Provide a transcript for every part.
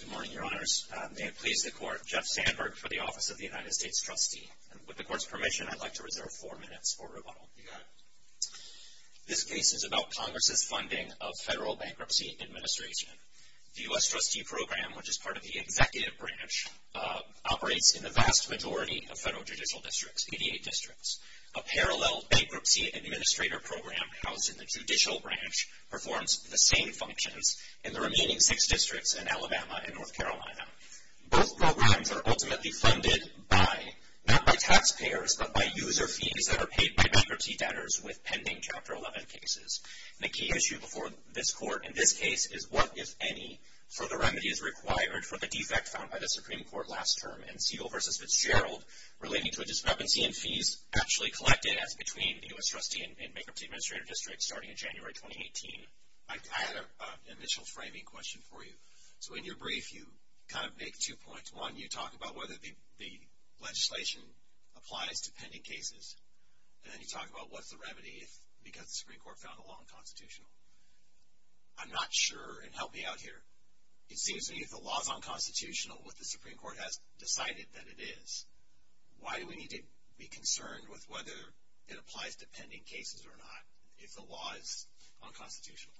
Good morning, Your Honors. May it please the Court, Jeff Sandberg for the Office of the United States Trustee. With the Court's permission, I'd like to reserve four minutes for rebuttal. You got it. This case is about Congress's funding of federal bankruptcy administration. The U.S. Trustee Program, which is part of the Executive Branch, operates in the vast majority of federal judicial districts, 88 districts. A parallel Bankruptcy Administrator Program, housed in the Judicial Branch, performs the same functions in the remaining six districts in Alabama and North Carolina. Both programs are ultimately funded by, not by taxpayers, but by user fees that are paid by bankruptcy debtors with pending Chapter 11 cases. The key issue before this Court in this case is what, if any, further remedy is required for the defect found by the Supreme Court last term in Siegel v. Fitzgerald relating to a discrepancy in fees actually collected as between the U.S. Trustee and Bankruptcy Administrator District starting in January 2018. I had an initial framing question for you. So in your brief, you kind of make two points. One, you talk about whether the legislation applies to pending cases. And then you talk about what's the remedy if, because the Supreme Court found the law unconstitutional. I'm not sure, and help me out here. It seems to me if the law is unconstitutional, what the Supreme Court has decided that it is, why do we need to be concerned with whether it applies to pending cases or not if the law is unconstitutional?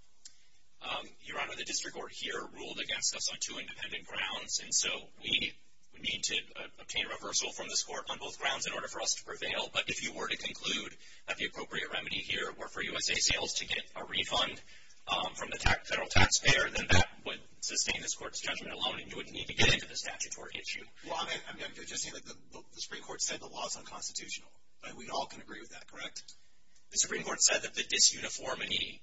Your Honor, the District Court here ruled against us on two independent grounds, and so we need to obtain reversal from this Court on both grounds in order for us to prevail. But if you were to conclude that the appropriate remedy here were for USA Sales to get a refund from the federal taxpayer, then that would sustain this Court's judgment alone, and you wouldn't need to get into the statutory issue. Well, I'm just saying that the Supreme Court said the law is unconstitutional. We all can agree with that, correct? The Supreme Court said that the disuniformity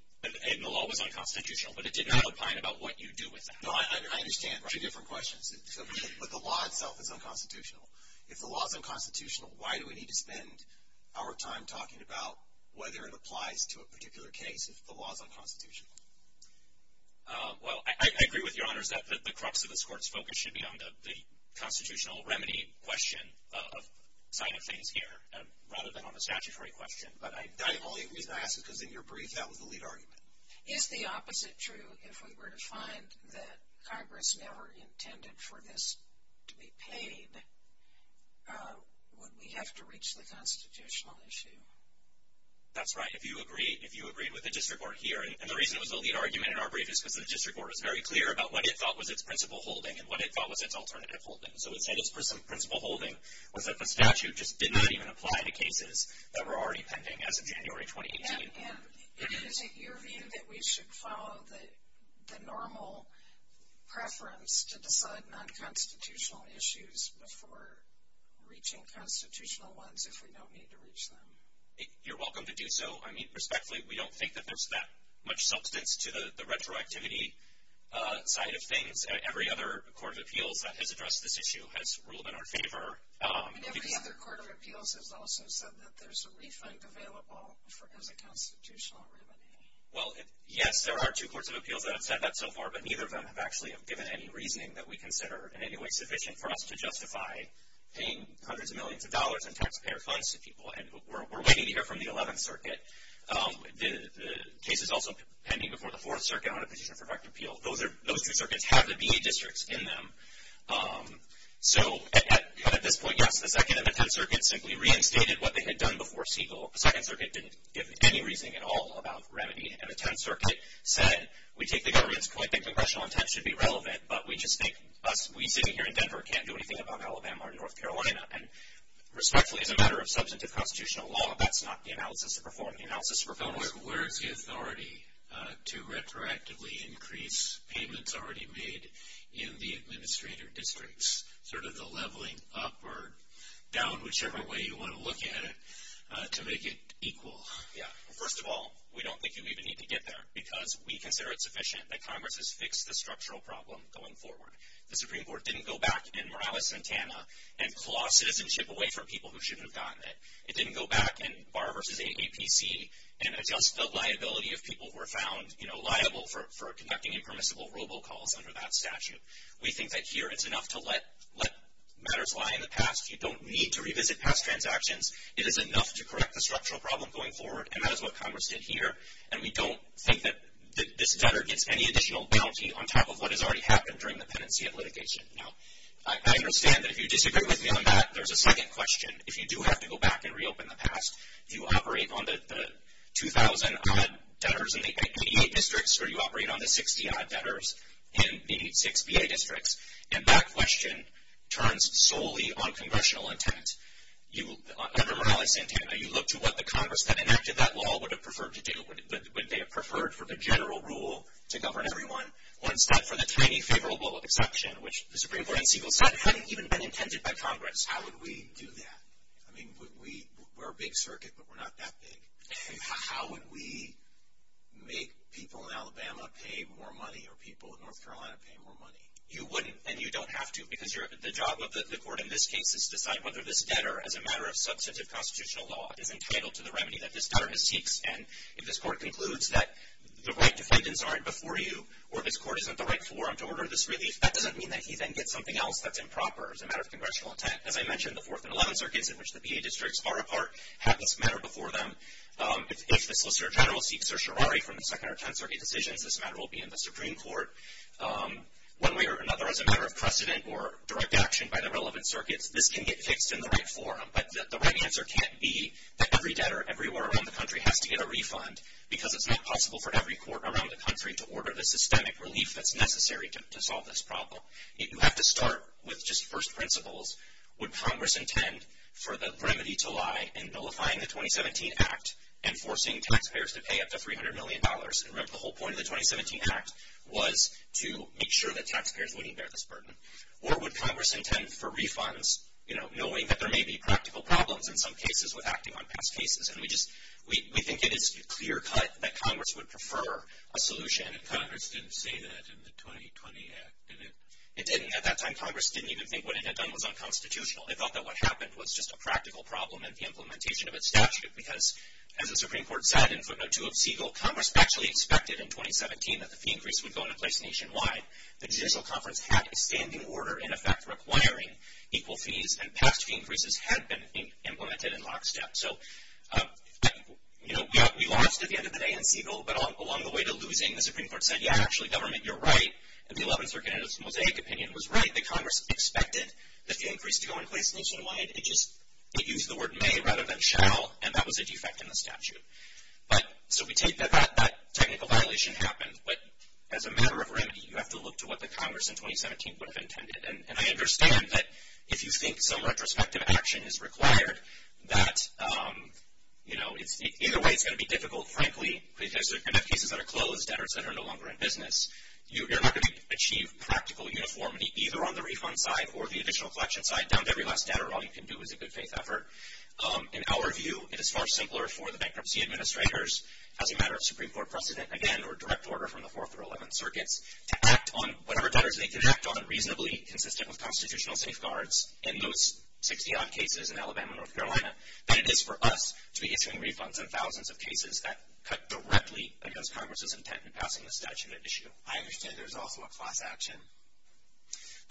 in the law was unconstitutional, but it did not outline about what you do with that. No, I understand. Two different questions. But the law itself is unconstitutional. If the law is unconstitutional, why do we need to spend our time talking about whether it applies to a particular case if the law is unconstitutional? Well, I agree with Your Honor that the crux of this Court's focus should be on the constitutional remedy question, a sign of things here, rather than on the statutory question. But the only reason I ask is because in your brief, that was the lead argument. Is the opposite true? If we were to find that Congress never intended for this to be paid, would we have to reach the constitutional issue? That's right. If you agree with the district court here, and the reason it was the lead argument in our brief is because the district court was very clear about what it thought was its principle holding and what it thought was its alternative holding. So it said its principle holding was that the statute just did not even apply to cases that were already pending as of January 2018. Yeah, yeah. Is it your view that we should follow the normal preference to decide non-constitutional issues before reaching constitutional ones if we don't need to reach them? You're welcome to do so. I mean, respectfully, we don't think that there's that much substance to the retroactivity side of things. Every other court of appeals that has addressed this issue has ruled in our favor. And every other court of appeals has also said that there's a refund available as a constitutional remedy. Well, yes, there are two courts of appeals that have said that so far, but neither of them have actually given any reasoning that we consider in any way sufficient for us to justify paying hundreds of millions of dollars in taxpayer funds to people. And we're waiting to hear from the 11th Circuit. The case is also pending before the 4th Circuit on a petition for direct appeal. Those two circuits have the VA districts in them. So at this point, yes, the 2nd and the 10th Circuit simply reinstated what they had done before Siegel. The 2nd Circuit didn't give any reasoning at all about remedy. And the 10th Circuit said, we take the government's point that congressional intent should be relevant, but we just think us, we sitting here in Denver, can't do anything about Alabama or North Carolina. And respectfully, as a matter of substantive constitutional law, that's not the analysis to perform. The analysis to perform is... Where's the authority to retroactively increase payments already made in the administrator districts? Sort of the leveling up or down, whichever way you want to look at it, to make it equal. First of all, we don't think you even need to get there because we consider it sufficient that Congress has fixed the structural problem going forward. The Supreme Court didn't go back in Morales-Santana and claw citizenship away from people who shouldn't have gotten it. It didn't go back in Barr v. AAPC and adjust the liability of people who were found, you know, liable for conducting impermissible robocalls under that statute. We think that here it's enough to let matters lie in the past. You don't need to revisit past transactions. It is enough to correct the structural problem going forward, and that is what Congress did here. And we don't think that this debtor gets any additional bounty on top of what has already happened during the penancy of litigation. Now, I understand that if you disagree with me on that, there's a second question. If you do have to go back and reopen the past, if you operate on the 2,000-odd debtors in the 88 districts or you operate on the 60-odd debtors in the 86 VA districts, and that question turns solely on congressional intent, under Morales-Santana, you look to what the Congress that enacted that law would have preferred to do. Would they have preferred for the general rule to govern everyone? One step for the tiny favorable exception, which the Supreme Court in Segal said hadn't even been intended by Congress. How would we do that? I mean, we're a big circuit, but we're not that big. How would we make people in Alabama pay more money or people in North Carolina pay more money? You wouldn't, and you don't have to, because the job of the court in this case is to decide whether this debtor, as a matter of substantive constitutional law, is entitled to the remedy that this debtor seeks. And if this court concludes that the right defendants aren't before you or this court isn't the right forum to order this relief, that doesn't mean that he then gets something else that's improper as a matter of congressional intent. As I mentioned, the 4th and 11th Circuits, in which the VA districts are apart, have this matter before them. If the Solicitor General seeks certiorari from the 2nd or 10th Circuit decisions, this matter will be in the Supreme Court. One way or another, as a matter of precedent or direct action by the relevant circuits, this can get fixed in the right forum. But the right answer can't be that every debtor everywhere around the country has to get a refund, because it's not possible for every court around the country to order the systemic relief that's necessary to solve this problem. You have to start with just first principles. Would Congress intend for the remedy to lie in nullifying the 2017 Act and forcing taxpayers to pay up to $300 million? Remember, the whole point of the 2017 Act was to make sure that taxpayers wouldn't bear this burden. Or would Congress intend for refunds, knowing that there may be practical problems in some cases with acting on past cases? We think it is clear-cut that Congress would prefer a solution. Congress didn't say that in the 2020 Act, did it? It didn't. At that time, Congress didn't even think what it had done was unconstitutional. It thought that what happened was just a practical problem in the implementation of its statute, because, as the Supreme Court said in footnote 2 of Siegel, Congress actually expected in 2017 that the fee increase would go into place nationwide. The Judicial Conference had a standing order, in effect, requiring equal fees, and past fee increases had been implemented in lockstep. So, you know, we lost at the end of the day in Siegel, but along the way to losing, the Supreme Court said, yeah, actually, government, you're right. And the Eleventh Circuit and its Mosaic opinion was right. That Congress expected the fee increase to go in place nationwide. It just used the word may rather than shall, and that was a defect in the statute. So we take that that technical violation happened, but as a matter of remedy, you have to look to what the Congress in 2017 would have intended. And I understand that if you think some retrospective action is required, that, you know, either way it's going to be difficult, frankly, because you're going to have cases that are closed, debtors that are no longer in business. You're not going to achieve practical uniformity either on the refund side or the additional collection side down to every last debtor. All you can do is a good faith effort. In our view, it is far simpler for the bankruptcy administrators, as a matter of Supreme Court precedent, again, or direct order from the Fourth or Eleventh Circuits, to act on whatever debtors they can act on reasonably consistent with constitutional safeguards in those 60-odd cases in Alabama and North Carolina, than it is for us to be issuing refunds on thousands of cases that cut directly against Congress's intent in passing the statute at issue. I understand there's also a class action.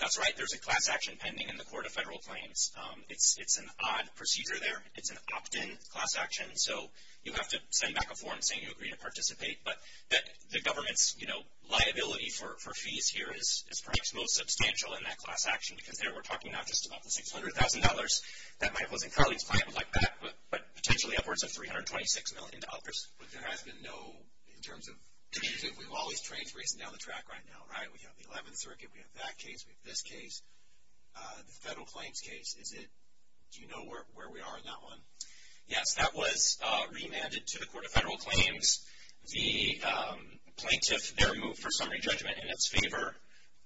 That's right. There's a class action pending in the Court of Federal Claims. It's an odd procedure there. It's an opt-in class action. So you have to send back a form saying you agree to participate. But the government's, you know, liability for fees here is perhaps most substantial in that class action because there we're talking not just about the $600,000 that my opposing colleague's client would like back, but potentially upwards of $326 million to others. But there has been no, in terms of, we have all these trains racing down the track right now, right? We have the 11th Circuit, we have that case, we have this case, the federal claims case. Do you know where we are on that one? Yes, that was remanded to the Court of Federal Claims. The plaintiff there moved for summary judgment in its favor,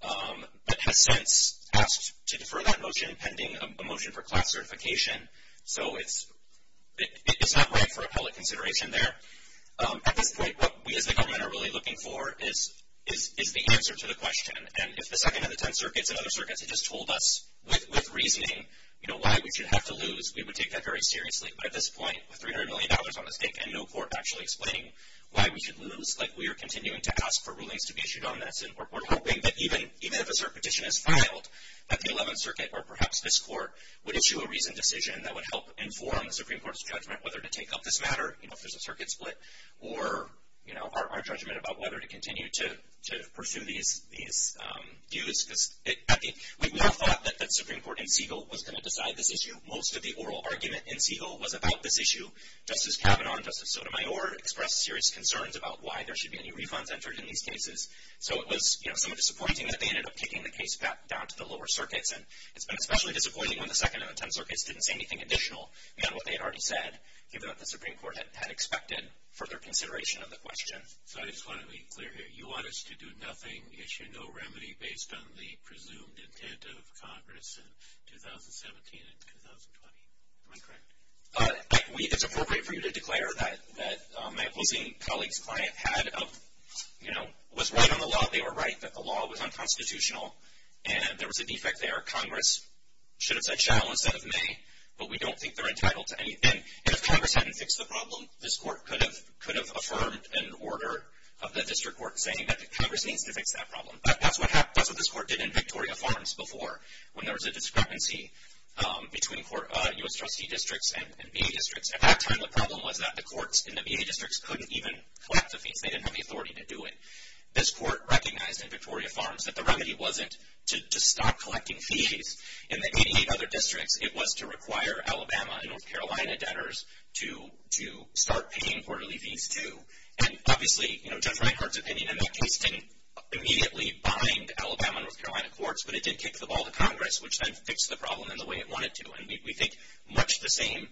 but has since asked to defer that motion pending a motion for class certification. So it's not right for appellate consideration there. At this point, what we as the government are really looking for is the answer to the question. And if the 2nd and the 10th Circuits and other circuits had just told us with reasoning, you know, why we should have to lose, we would take that very seriously. But at this point, with $300 million on the stake and no court actually explaining why we should lose, like we are continuing to ask for rulings to be issued on this. And we're hoping that even if a cert petition is filed, that the 11th Circuit or perhaps this court would issue a reasoned decision that would help inform the Supreme Court's judgment whether to take up this matter. You know, if there's a circuit split or, you know, our judgment about whether to continue to pursue these views. Because we would have thought that the Supreme Court in Siegel was going to decide this issue. Most of the oral argument in Siegel was about this issue. Justice Kavanaugh and Justice Sotomayor expressed serious concerns about why there should be any refunds entered in these cases. So it was, you know, somewhat disappointing that they ended up kicking the case back down to the lower circuits. And it's been especially disappointing when the 2nd and the 10th Circuits didn't say anything additional beyond what they had already said, given that the Supreme Court had expected further consideration of the question. So I just want to be clear here. You want us to do nothing, issue no remedy based on the presumed intent of Congress in 2017 and 2020. Am I correct? It's appropriate for you to declare that my opposing colleague's client had, you know, was right on the law. They were right that the law was unconstitutional. And there was a defect there. Congress should have said shall instead of may. But we don't think they're entitled to anything. And if Congress hadn't fixed the problem, this court could have affirmed an order of the district court saying that Congress needs to fix that problem. That's what this court did in Victoria Farms before, when there was a discrepancy between U.S. trustee districts and VA districts. At that time, the problem was that the courts in the VA districts couldn't even collect the fees. They didn't have the authority to do it. This court recognized in Victoria Farms that the remedy wasn't to stop collecting fees in the 88 other districts. It was to require Alabama and North Carolina debtors to start paying quarterly fees too. And obviously, you know, Judge Reinhart's opinion in that case didn't immediately bind Alabama and North Carolina courts, but it did kick the ball to Congress, which then fixed the problem in the way it wanted to. And we think much the same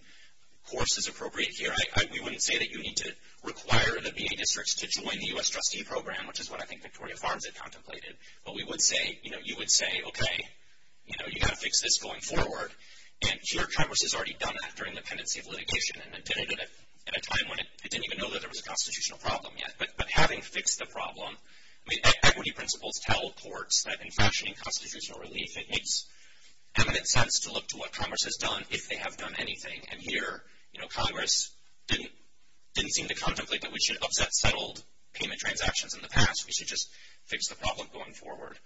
course is appropriate here. We wouldn't say that you need to require the VA districts to join the U.S. trustee program, which is what I think Victoria Farms had contemplated. But we would say, you know, you would say, okay, you know, you've got to fix this going forward. And here, Congress has already done that during the pendency of litigation and did it at a time when it didn't even know that there was a constitutional problem yet. But having fixed the problem, I mean, equity principles tell courts that in fashioning constitutional relief, it makes eminent sense to look to what Congress has done if they have done anything. And here, you know, Congress didn't seem to contemplate that we should upset settled payment transactions in the past. We should just fix the problem going forward.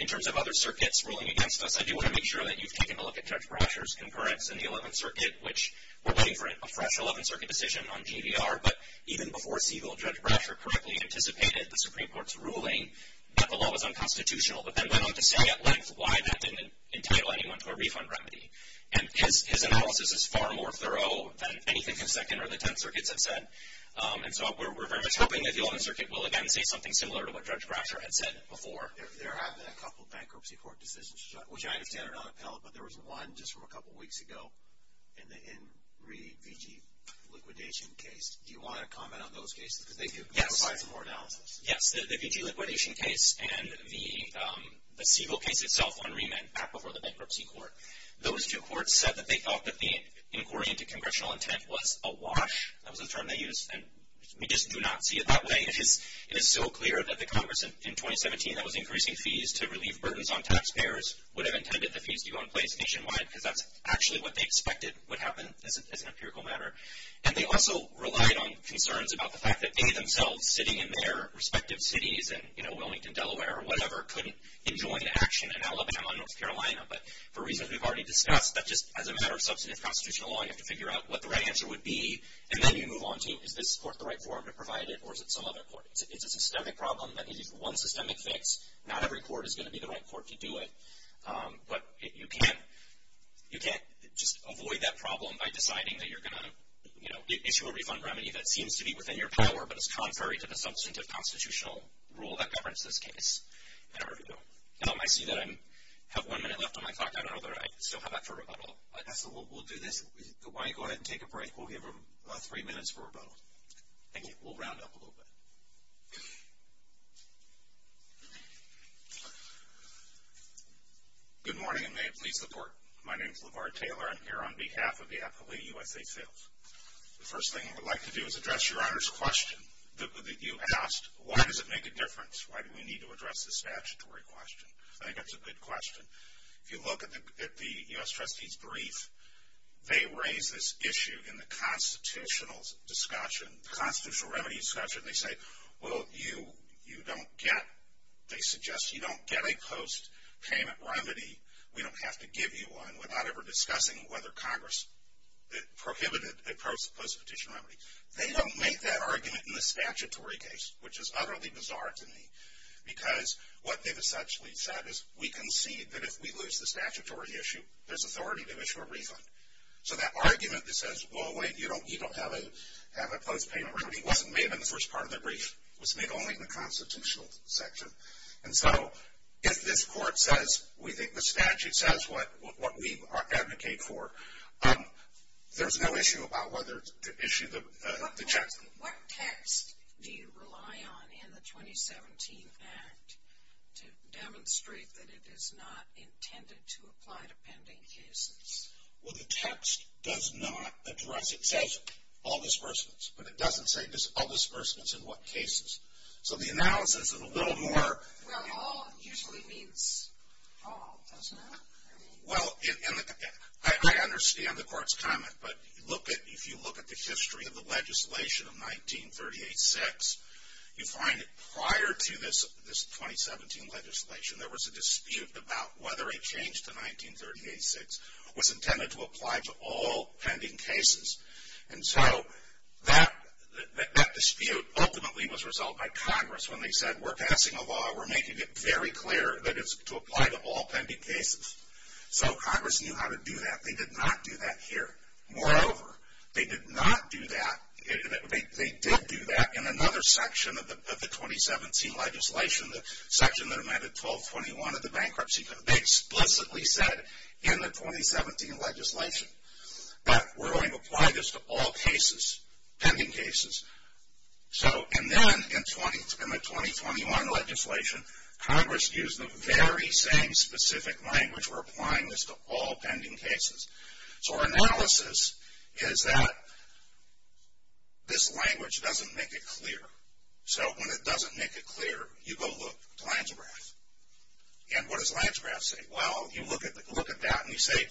In terms of other circuits ruling against us, I do want to make sure that you've taken a look at Judge Brasher's concurrence in the 11th Circuit, which we're waiting for a fresh 11th Circuit decision on GDR. But even before Siegel, Judge Brasher correctly anticipated the Supreme Court's ruling that the law was unconstitutional, but then went on to say at length why that didn't entitle anyone to a refund remedy. And his analysis is far more thorough than anything the 2nd or the 10th Circuits have said. And so we're very much hoping that the 11th Circuit will, again, say something similar to what Judge Brasher had said before. There have been a couple bankruptcy court decisions, which I understand are not appellate, but there was one just from a couple weeks ago in the VG liquidation case. Do you want to comment on those cases because they provide some more analysis? Yes, the VG liquidation case and the Siegel case itself on remand back before the bankruptcy court. Those two courts said that they thought that the inquiry into congressional intent was a wash. That was the term they used, and we just do not see it that way. It is so clear that the Congress in 2017 that was increasing fees to relieve burdens on taxpayers would have intended the fees to go in place nationwide because that's actually what they expected would happen as an empirical matter. And they also relied on concerns about the fact that they themselves, sitting in their respective cities, in, you know, Wilmington, Delaware, or whatever, couldn't enjoin action in Alabama and North Carolina. But for reasons we've already discussed, that just as a matter of substantive constitutional law, you have to figure out what the right answer would be, and then you move on to is this court the right forum to provide it, or is it some other court? It's a systemic problem that needs one systemic fix. Not every court is going to be the right court to do it. But you can't just avoid that problem by deciding that you're going to, you know, issue a refund remedy that seems to be within your power but is contrary to the substantive constitutional rule that governs this case. And I see that I have one minute left on my clock. I don't know that I still have that for rebuttal. I guess we'll do this. Why don't you go ahead and take a break? We'll give them three minutes for rebuttal. Thank you. We'll round up a little bit. Good morning, and may it please the Court. My name is LeVar Taylor. I'm here on behalf of the Appellee USA Sales. The first thing I would like to do is address Your Honor's question that you asked. Why does it make a difference? Why do we need to address this statutory question? I think that's a good question. If you look at the U.S. Trustee's brief, they raise this issue in the constitutional discussion, the constitutional remedy discussion, and they say, well, you don't get, they suggest, you don't get a post-payment remedy. We don't have to give you one without ever discussing whether Congress prohibited a post-petition remedy. They don't make that argument in the statutory case, which is utterly bizarre to me, because what they've essentially said is we concede that if we lose the statutory issue, there's authority to issue a refund. So that argument that says, well, wait, you don't have a post-payment remedy, wasn't made in the first part of the brief. It was made only in the constitutional section. And so if this Court says we think the statute says what we advocate for, there's no issue about whether to issue the check. What text do you rely on in the 2017 act to demonstrate that it is not intended to apply to pending cases? Well, the text does not address it. It says all disbursements, but it doesn't say all disbursements in what cases. So the analysis of a little more. Well, all usually means all, doesn't it? Well, I understand the Court's comment, but if you look at the history of the legislation of 1938-6, you find that prior to this 2017 legislation there was a dispute about whether a change to 1938-6 was intended to apply to all pending cases. And so that dispute ultimately was resolved by Congress when they said we're passing a law, we're making it very clear that it's to apply to all pending cases. So Congress knew how to do that. They did not do that here. Moreover, they did not do that, they did do that in another section of the 2017 legislation, the section that amended 1221 of the Bankruptcy Code. They explicitly said in the 2017 legislation that we're going to apply this to all cases, pending cases. So, and then in the 2021 legislation, Congress used the very same specific language for applying this to all pending cases. So our analysis is that this language doesn't make it clear. So when it doesn't make it clear, you go look at the lands graph. And what does the lands graph say? Well, you look at that and you say,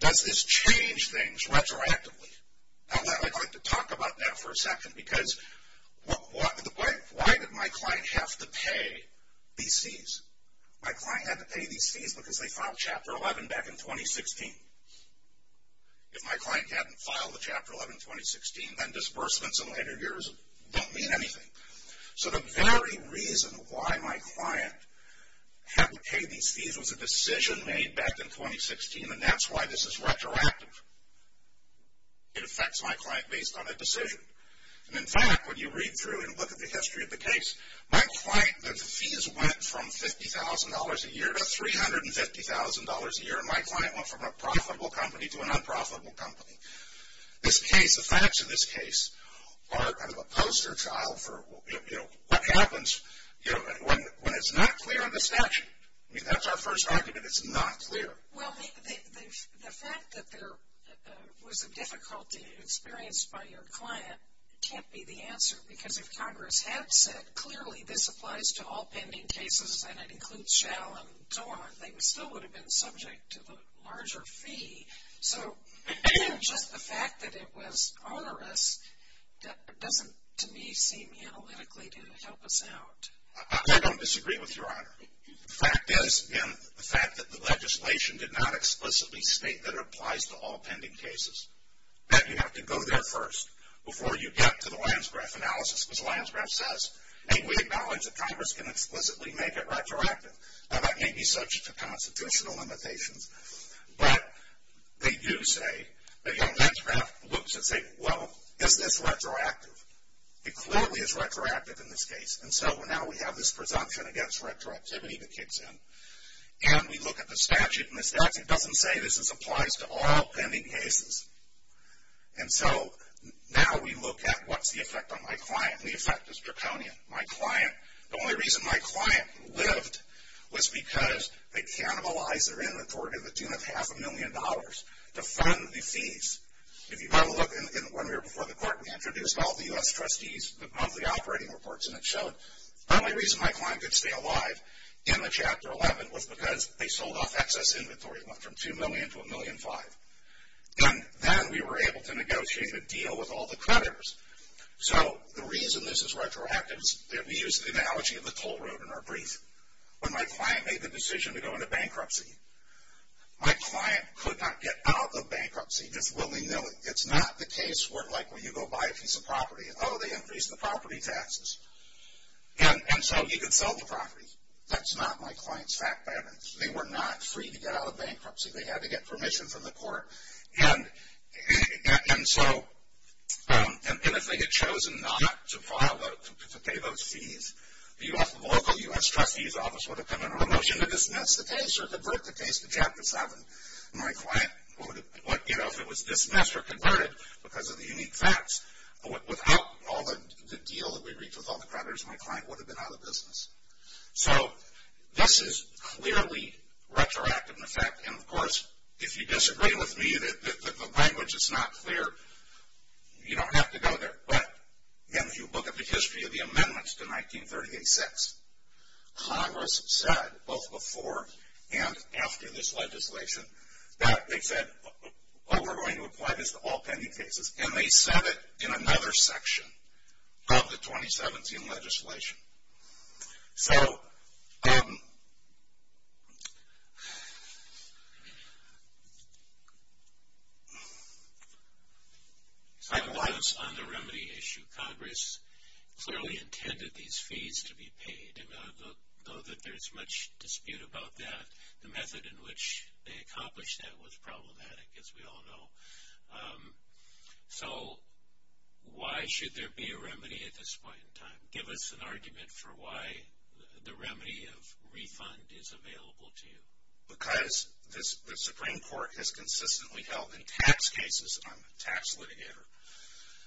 does this change things retroactively? Now I'd like to talk about that for a second, because why did my client have to pay these fees? My client had to pay these fees because they filed Chapter 11 back in 2016. If my client hadn't filed the Chapter 11 in 2016, then disbursements in later years don't mean anything. So the very reason why my client had to pay these fees was a decision made back in 2016, and that's why this is retroactive. It affects my client based on a decision. And in fact, when you read through and look at the history of the case, my client, the fees went from $50,000 a year to $350,000 a year, and my client went from a profitable company to a non-profitable company. The facts of this case are kind of a poster child for what happens when it's not clear in the statute. I mean, that's our first argument, it's not clear. Well, the fact that there was a difficulty experienced by your client can't be the answer, because if Congress had said, clearly this applies to all pending cases and it includes Schell and Zorn, they still would have been subject to the larger fee. So just the fact that it was onerous doesn't, to me, seem analytically to help us out. I don't disagree with Your Honor. The fact is, again, the fact that the legislation did not explicitly state that it applies to all pending cases, that you have to go there first before you get to the Lyons-Graf analysis, because Lyons-Graf says, hey, we acknowledge that Congress can explicitly make it retroactive. Now, that may be subject to constitutional limitations, but they do say that Lyons-Graf looks and says, well, is this retroactive? It clearly is retroactive in this case, and so now we have this presumption against retroactivity that kicks in. And we look at the statute, and the statute doesn't say this applies to all pending cases. And so now we look at what's the effect on my client. The effect is draconian. The only reason my client lived was because they cannibalized their inauthority in the tune of half a million dollars to fund the fees. If you have a look, when we were before the court, we introduced all the U.S. trustees, the monthly operating reports, and it showed the only reason my client could stay alive in the Chapter 11 was because they sold off excess inventory from $2 million to $1.5 million. And then we were able to negotiate a deal with all the creditors. So the reason this is retroactive is that we use the analogy of the toll road in our brief. When my client made the decision to go into bankruptcy, my client could not get out of bankruptcy just willy-nilly. It's not the case where, like, when you go buy a piece of property, oh, they increase the property taxes. And so you could sell the property. That's not my client's fact pattern. They were not free to get out of bankruptcy. They had to get permission from the court. And so if they had chosen not to pay those fees, the local U.S. trustees office would have come into motion to dismiss the case or convert the case to Chapter 7. My client, you know, if it was dismissed or converted because of the unique facts, without all the deal that we reached with all the creditors, my client would have been out of business. So this is clearly retroactive in effect. And, of course, if you disagree with me that the language is not clear, you don't have to go there. But if you look at the history of the amendments to 1938-6, Congress said both before and after this legislation that they said, oh, we're going to apply this to all pending cases. And they said it in another section of the 2017 legislation. So I can lie on the remedy issue. Congress clearly intended these fees to be paid. And though there's much dispute about that, the method in which they accomplished that was problematic, as we all know. So why should there be a remedy at this point in time? Give us an argument for why the remedy of refund is available to you. Because the Supreme Court has consistently held in tax cases, I'm a tax litigator,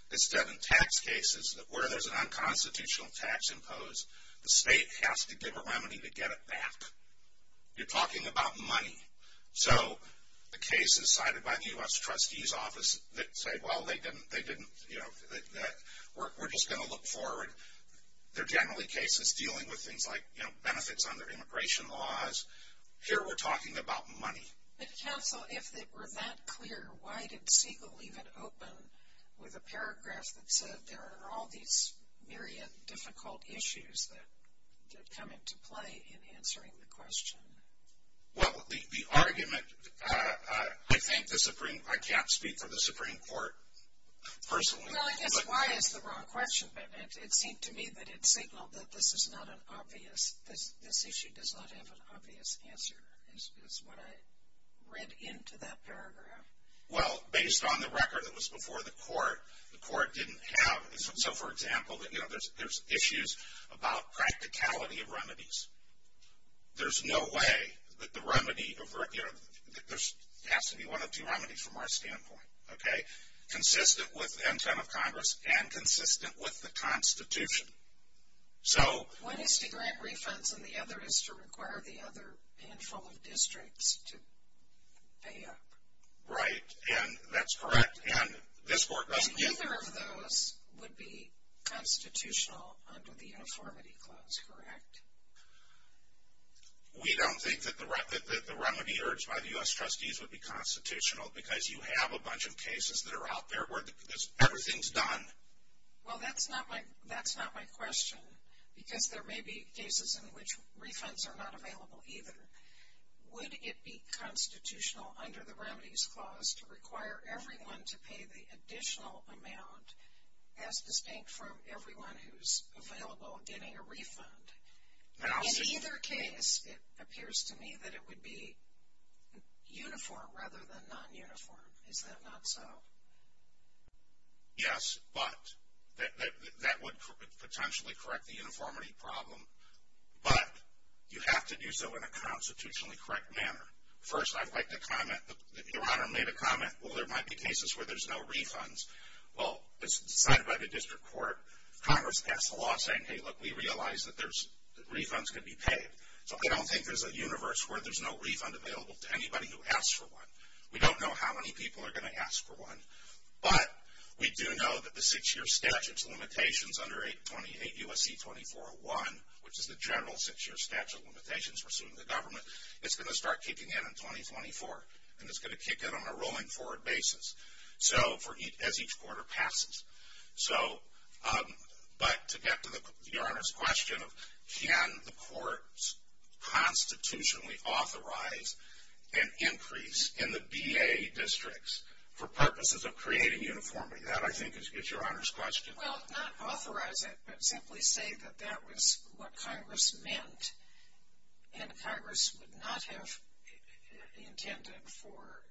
it's done in tax cases that where there's an unconstitutional tax imposed, the state has to give a remedy to get it back. You're talking about money. So the cases cited by the U.S. Trustee's Office that say, well, they didn't, you know, we're just going to look forward. They're generally cases dealing with things like, you know, benefits under immigration laws. Here we're talking about money. But counsel, if it were that clear, why did Siegel leave it open with a paragraph that said, there are all these myriad difficult issues that come into play in answering the question? Well, the argument, I think the Supreme, I can't speak for the Supreme Court personally. Well, I guess why is the wrong question. But it seemed to me that it signaled that this is not an obvious, this issue does not have an obvious answer is what I read into that paragraph. Well, based on the record that was before the court, the court didn't have. So, for example, you know, there's issues about practicality of remedies. There's no way that the remedy, you know, there has to be one or two remedies from our standpoint. Okay. Consistent with the intent of Congress and consistent with the Constitution. So. One is to grant refunds and the other is to require the other handful of districts to pay up. Right. And that's correct. And this court doesn't. And neither of those would be constitutional under the uniformity clause, correct? We don't think that the remedy urged by the U.S. trustees would be constitutional because you have a bunch of cases that are out there where everything's done. Well, that's not my question because there may be cases in which refunds are not available either. Would it be constitutional under the remedies clause to require everyone to pay the additional amount, as distinct from everyone who's available getting a refund? In either case, it appears to me that it would be uniform rather than non-uniform. Is that not so? Yes, but that would potentially correct the uniformity problem. But you have to do so in a constitutionally correct manner. First, I'd like to comment. Your Honor made a comment, well, there might be cases where there's no refunds. Well, it's decided by the district court. Congress passed a law saying, hey, look, we realize that refunds can be paid. So I don't think there's a universe where there's no refund available to anybody who asks for one. We don't know how many people are going to ask for one. But we do know that the six-year statute's limitations under 828 U.S.C. 2401, which is the general six-year statute limitations for suing the government, it's going to start kicking in in 2024, and it's going to kick in on a rolling forward basis as each quarter passes. But to get to Your Honor's question of can the courts constitutionally authorize an increase in the B.A. districts for purposes of creating uniformity, that, I think, is Your Honor's question. Well, not authorize it, but simply say that that was what Congress meant, and Congress would not have intended for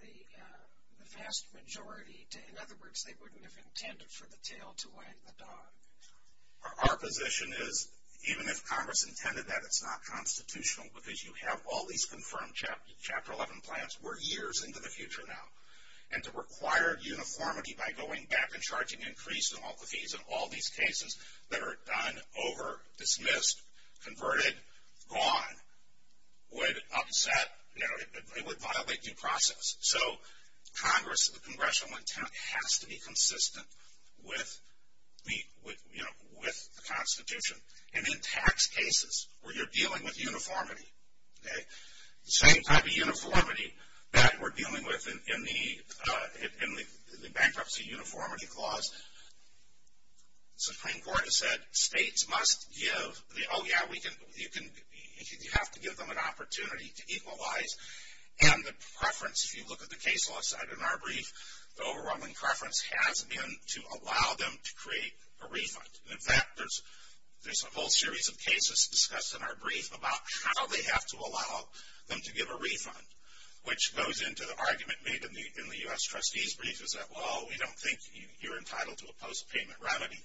the vast majority. In other words, they wouldn't have intended for the tail to wag the dog. Our position is, even if Congress intended that, it's not constitutional, because you have all these confirmed Chapter 11 plans. We're years into the future now. And to require uniformity by going back and charging increase in all the fees in all these cases that are done, over, dismissed, converted, gone, would upset, you know, it would violate due process. So Congress, the congressional intent has to be consistent with the, you know, with the Constitution. And in tax cases where you're dealing with uniformity, okay, the same type of uniformity that we're dealing with in the Bankruptcy Uniformity Clause, the Supreme Court has said states must give the, oh, yeah, you have to give them an opportunity to equalize, and the preference, if you look at the case law side in our brief, the overwhelming preference has been to allow them to create a refund. In fact, there's a whole series of cases discussed in our brief about how they have to allow them to give a refund, which goes into the argument made in the U.S. Trustee's brief, is that, well, we don't think you're entitled to a post-payment remedy,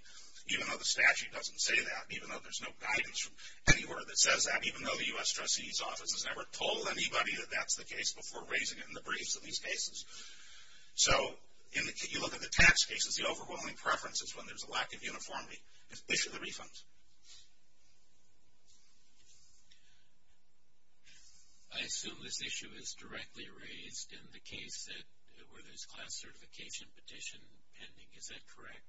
even though the statute doesn't say that, even though there's no guidance from anywhere that says that, even though the U.S. Trustee's office has never told anybody that that's the case before raising it in the briefs in these cases. So you look at the tax cases, the overwhelming preference is when there's a lack of uniformity. Issue the refund. I assume this issue is directly raised in the case that, where there's class certification petition pending. Is that correct?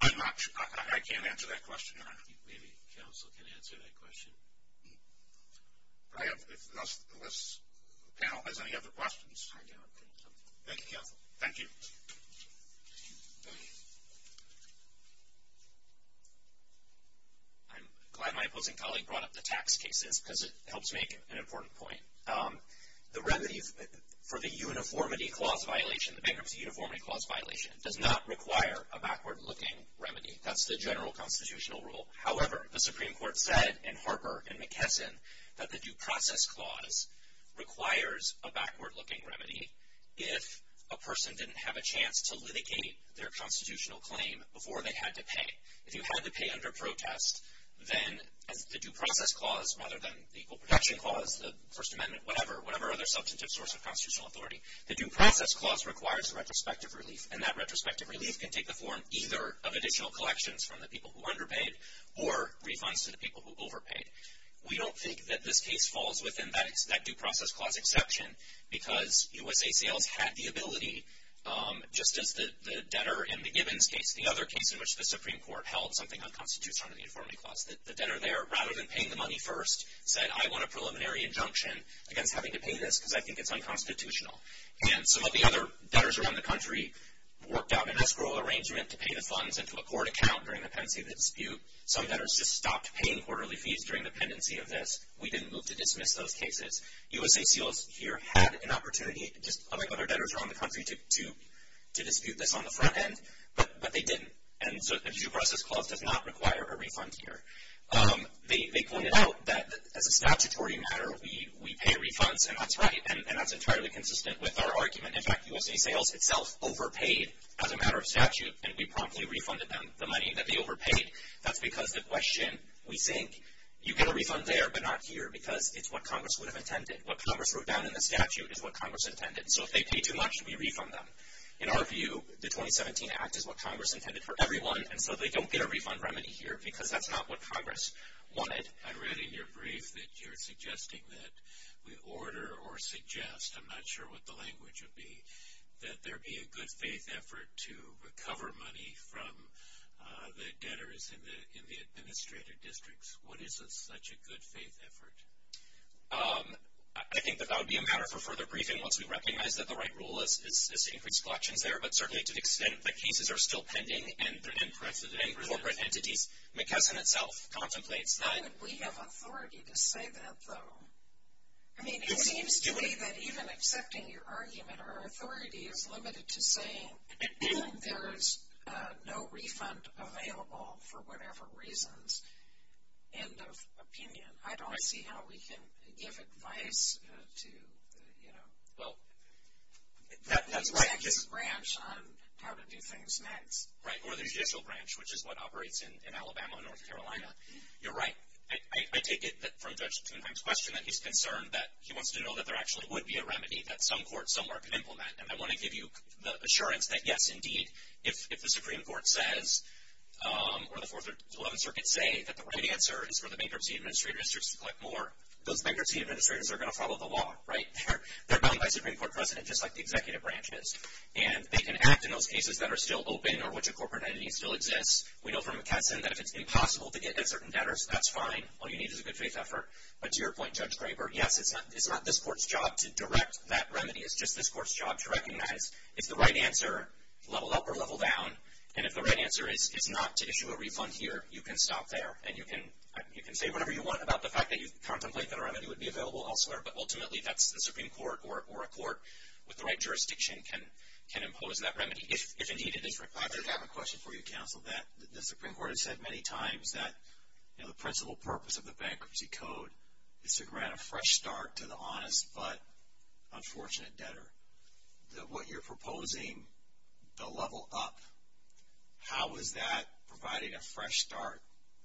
I'm not sure. I can't answer that question. Maybe counsel can answer that question. If this panel has any other questions. Thank you, counsel. Thank you. I'm glad my opposing colleague brought up the tax cases because it helps make an important point. The remedy for the uniformity clause violation, the bankruptcy uniformity clause violation, does not require a backward-looking remedy. That's the general constitutional rule. However, the Supreme Court said in Harper and McKesson that the Due Process Clause requires a backward-looking remedy if a person didn't have a chance to litigate their constitutional claim before they had to pay. If you had to pay under protest, then the Due Process Clause, rather than the Equal Protection Clause, the First Amendment, whatever other substantive source of constitutional authority, the Due Process Clause requires retrospective relief. And that retrospective relief can take the form either of additional collections from the people who underpaid or refunds to the people who overpaid. We don't think that this case falls within that Due Process Clause exception because U.S. ACLs had the ability, just as the debtor in the Gibbons case, the other case in which the Supreme Court held something unconstitutional in the uniformity clause. The debtor there, rather than paying the money first, said, I want a preliminary injunction against having to pay this because I think it's unconstitutional. And some of the other debtors around the country worked out an escrow arrangement to pay the funds into a court account during the pendency of the dispute. Some debtors just stopped paying quarterly fees during the pendency of this. We didn't move to dismiss those cases. U.S. ACLs here had an opportunity, just like other debtors around the country, to dispute this on the front end, but they didn't. And so the Due Process Clause does not require a refund here. They pointed out that as a statutory matter, we pay refunds, and that's right, and that's entirely consistent with our argument. In fact, U.S. ACLs itself overpaid as a matter of statute, and we promptly refunded them the money that they overpaid. That's because the question, we think, you get a refund there but not here because it's what Congress would have intended. What Congress wrote down in the statute is what Congress intended. So if they pay too much, we refund them. In our view, the 2017 Act is what Congress intended for everyone, and so they don't get a refund remedy here because that's not what Congress wanted. I read in your brief that you're suggesting that we order or suggest, I'm not sure what the language would be, that there be a good-faith effort to recover money from the debtors in the administrative districts. What is such a good-faith effort? I think that that would be a matter for further briefing once we recognize that the right rule is to increase collections there, but certainly to the extent that cases are still pending and corporate entities. McKesson itself contemplates that. We have authority to say that, though. I mean, it seems to me that even accepting your argument, our authority is limited to saying there's no refund available for whatever reasons. End of opinion. I don't see how we can give advice to the executive branch on how to do things next. Right, or the judicial branch, which is what operates in Alabama and North Carolina. You're right. I take it from Judge Tuneheim's question that he's concerned that he wants to know that there actually would be a remedy that some court somewhere could implement, and I want to give you the assurance that, yes, indeed, if the Supreme Court says or the Fourth and Eleventh Circuits say that the right answer is for the bankruptcy administrators to collect more, those bankruptcy administrators are going to follow the law, right? They're bound by Supreme Court precedent just like the executive branch is, and they can act in those cases that are still open or which a corporate entity still exists. We know from McKesson that if it's impossible to get at certain debtors, that's fine. All you need is a good faith effort. But to your point, Judge Graber, yes, it's not this court's job to direct that remedy. It's just this court's job to recognize if the right answer, level up or level down, and if the right answer is not to issue a refund here, you can stop there, and you can say whatever you want about the fact that you contemplate that a remedy would be available elsewhere, but ultimately that's the Supreme Court or a court with the right jurisdiction can impose that remedy if indeed it is required. I just have a question for you, Counsel, that the Supreme Court has said many times that, you know, the principal purpose of the Bankruptcy Code is to grant a fresh start to the honest but unfortunate debtor. What you're proposing, the level up, how is that providing a fresh start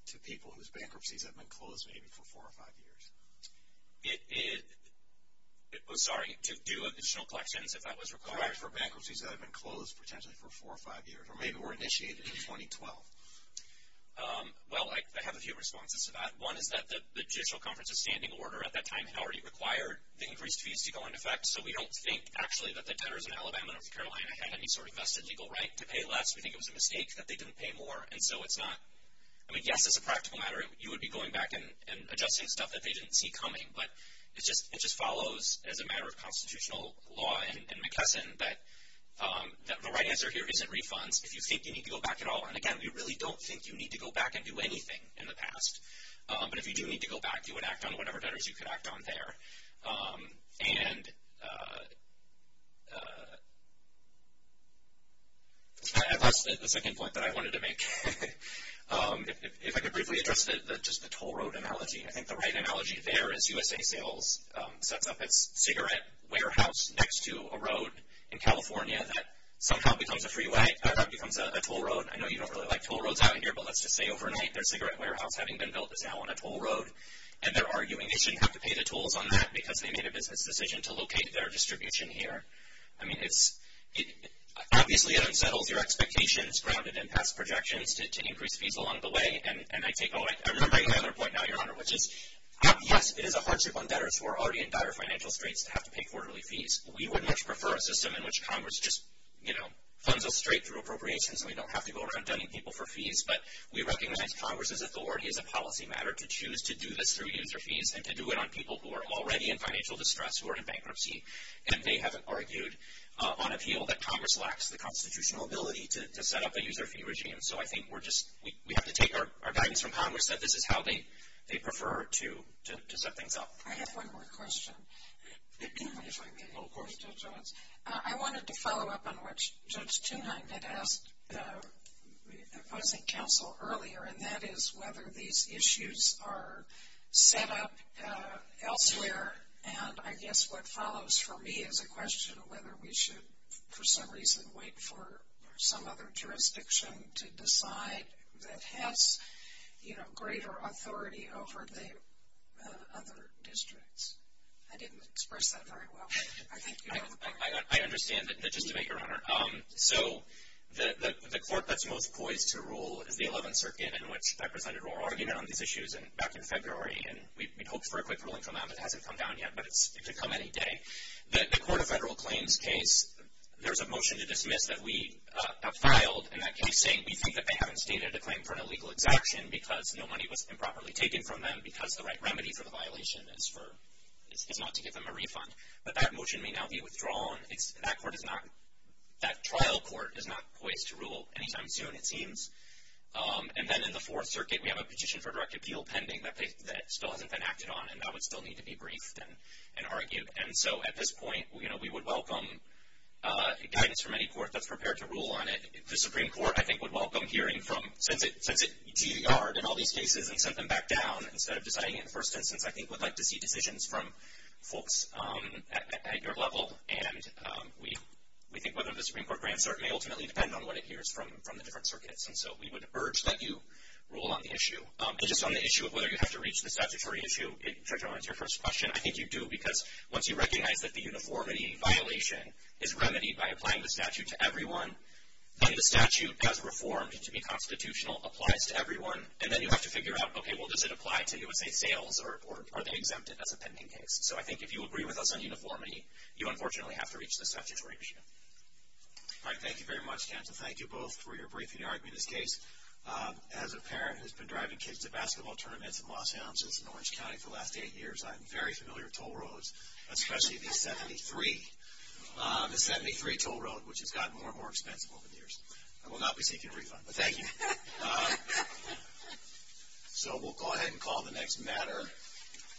to people whose bankruptcies have been closed maybe for four or five years? It was starting to do additional collections if that was required. For bankruptcies that have been closed potentially for four or five years, or maybe were initiated in 2012. Well, I have a few responses to that. One is that the Judicial Conference of Standing Order at that time had already required the increased fees to go into effect, so we don't think actually that the debtors in Alabama and North Carolina had any sort of vested legal right to pay less. We think it was a mistake that they didn't pay more, and so it's not. I mean, yes, it's a practical matter. You would be going back and adjusting stuff that they didn't see coming, but it just follows as a matter of constitutional law and McKesson that the right answer here isn't refunds. If you think you need to go back at all, and again, we really don't think you need to go back and do anything in the past, but if you do need to go back, you would act on whatever debtors you could act on there. And that's the second point that I wanted to make. If I could briefly address just the toll road analogy. I think the right analogy there is USA Sales sets up its cigarette warehouse next to a road in California that somehow becomes a freeway. That becomes a toll road. I know you don't really like toll roads out here, but let's just say overnight their cigarette warehouse, having been built, is now on a toll road, and they're arguing they shouldn't have to pay the tolls on that because they made a business decision to locate their distribution here. I mean, obviously it unsettles your expectations grounded in past projections to increase fees along the way, and I take all right. I remember my other point now, Your Honor, which is, yes, it is a hardship on debtors who are already in dire financial straits to have to pay quarterly fees. We would much prefer a system in which Congress just funds us straight through appropriations and we don't have to go around dunning people for fees, but we recognize Congress's authority as a policy matter to choose to do this through user fees and to do it on people who are already in financial distress who are in bankruptcy, and they haven't argued on appeal that Congress lacks the constitutional ability to set up a user fee regime. So I think we have to take our guidance from Congress that this is how they prefer to set things up. I have one more question, if I may. Of course, Judge Owens. I wanted to follow up on what Judge Tunheim had asked the opposing counsel earlier, and that is whether these issues are set up elsewhere, and I guess what follows for me is a question of whether we should, for some reason, wait for some other jurisdiction to decide that has, you know, greater authority over the other districts. I didn't express that very well. I think you have a point. I understand that. Just a minute, Your Honor. So the court that's most poised to rule is the Eleventh Circuit, in which I presented our argument on these issues back in February, and we'd hoped for a quick ruling from them. It hasn't come down yet, but it could come any day. The Court of Federal Claims case, there's a motion to dismiss that we have filed, and that case saying we think that they haven't stated a claim for an illegal exaction because no money was improperly taken from them because the right remedy for the violation is not to give them a refund. But that motion may now be withdrawn. That trial court is not poised to rule any time soon, it seems. And then in the Fourth Circuit, we have a petition for direct appeal pending that still hasn't been acted on, and that would still need to be briefed and argued. And so at this point, you know, we would welcome guidance from any court that's prepared to rule on it. The Supreme Court, I think, would welcome hearing from, since it GR'd in all these cases and sent them back down instead of deciding it in the first instance, I think would like to see decisions from folks at your level. And we think whether the Supreme Court grants it may ultimately depend on what it hears from the different circuits. And so we would urge that you rule on the issue. And just on the issue of whether you have to reach the statutory issue, Judge Rowe, to answer your first question, I think you do, because once you recognize that the uniformity violation is remedied by applying the statute to everyone, then the statute, as reformed to be constitutional, applies to everyone. And then you have to figure out, okay, well, does it apply to, let's say, sales, or are they exempted as a pending case? So I think if you agree with us on uniformity, you unfortunately have to reach the statutory issue. All right, thank you very much, Jensen. Thank you both for your briefing and arguing this case. As a parent who's been driving kids to basketball tournaments in Los Angeles and Orange County for the last eight years, I'm very familiar with toll roads, especially the 73. The 73 toll road, which has gotten more and more expensive over the years. I will not be taking a refund, but thank you. So we'll go ahead and call the next matter.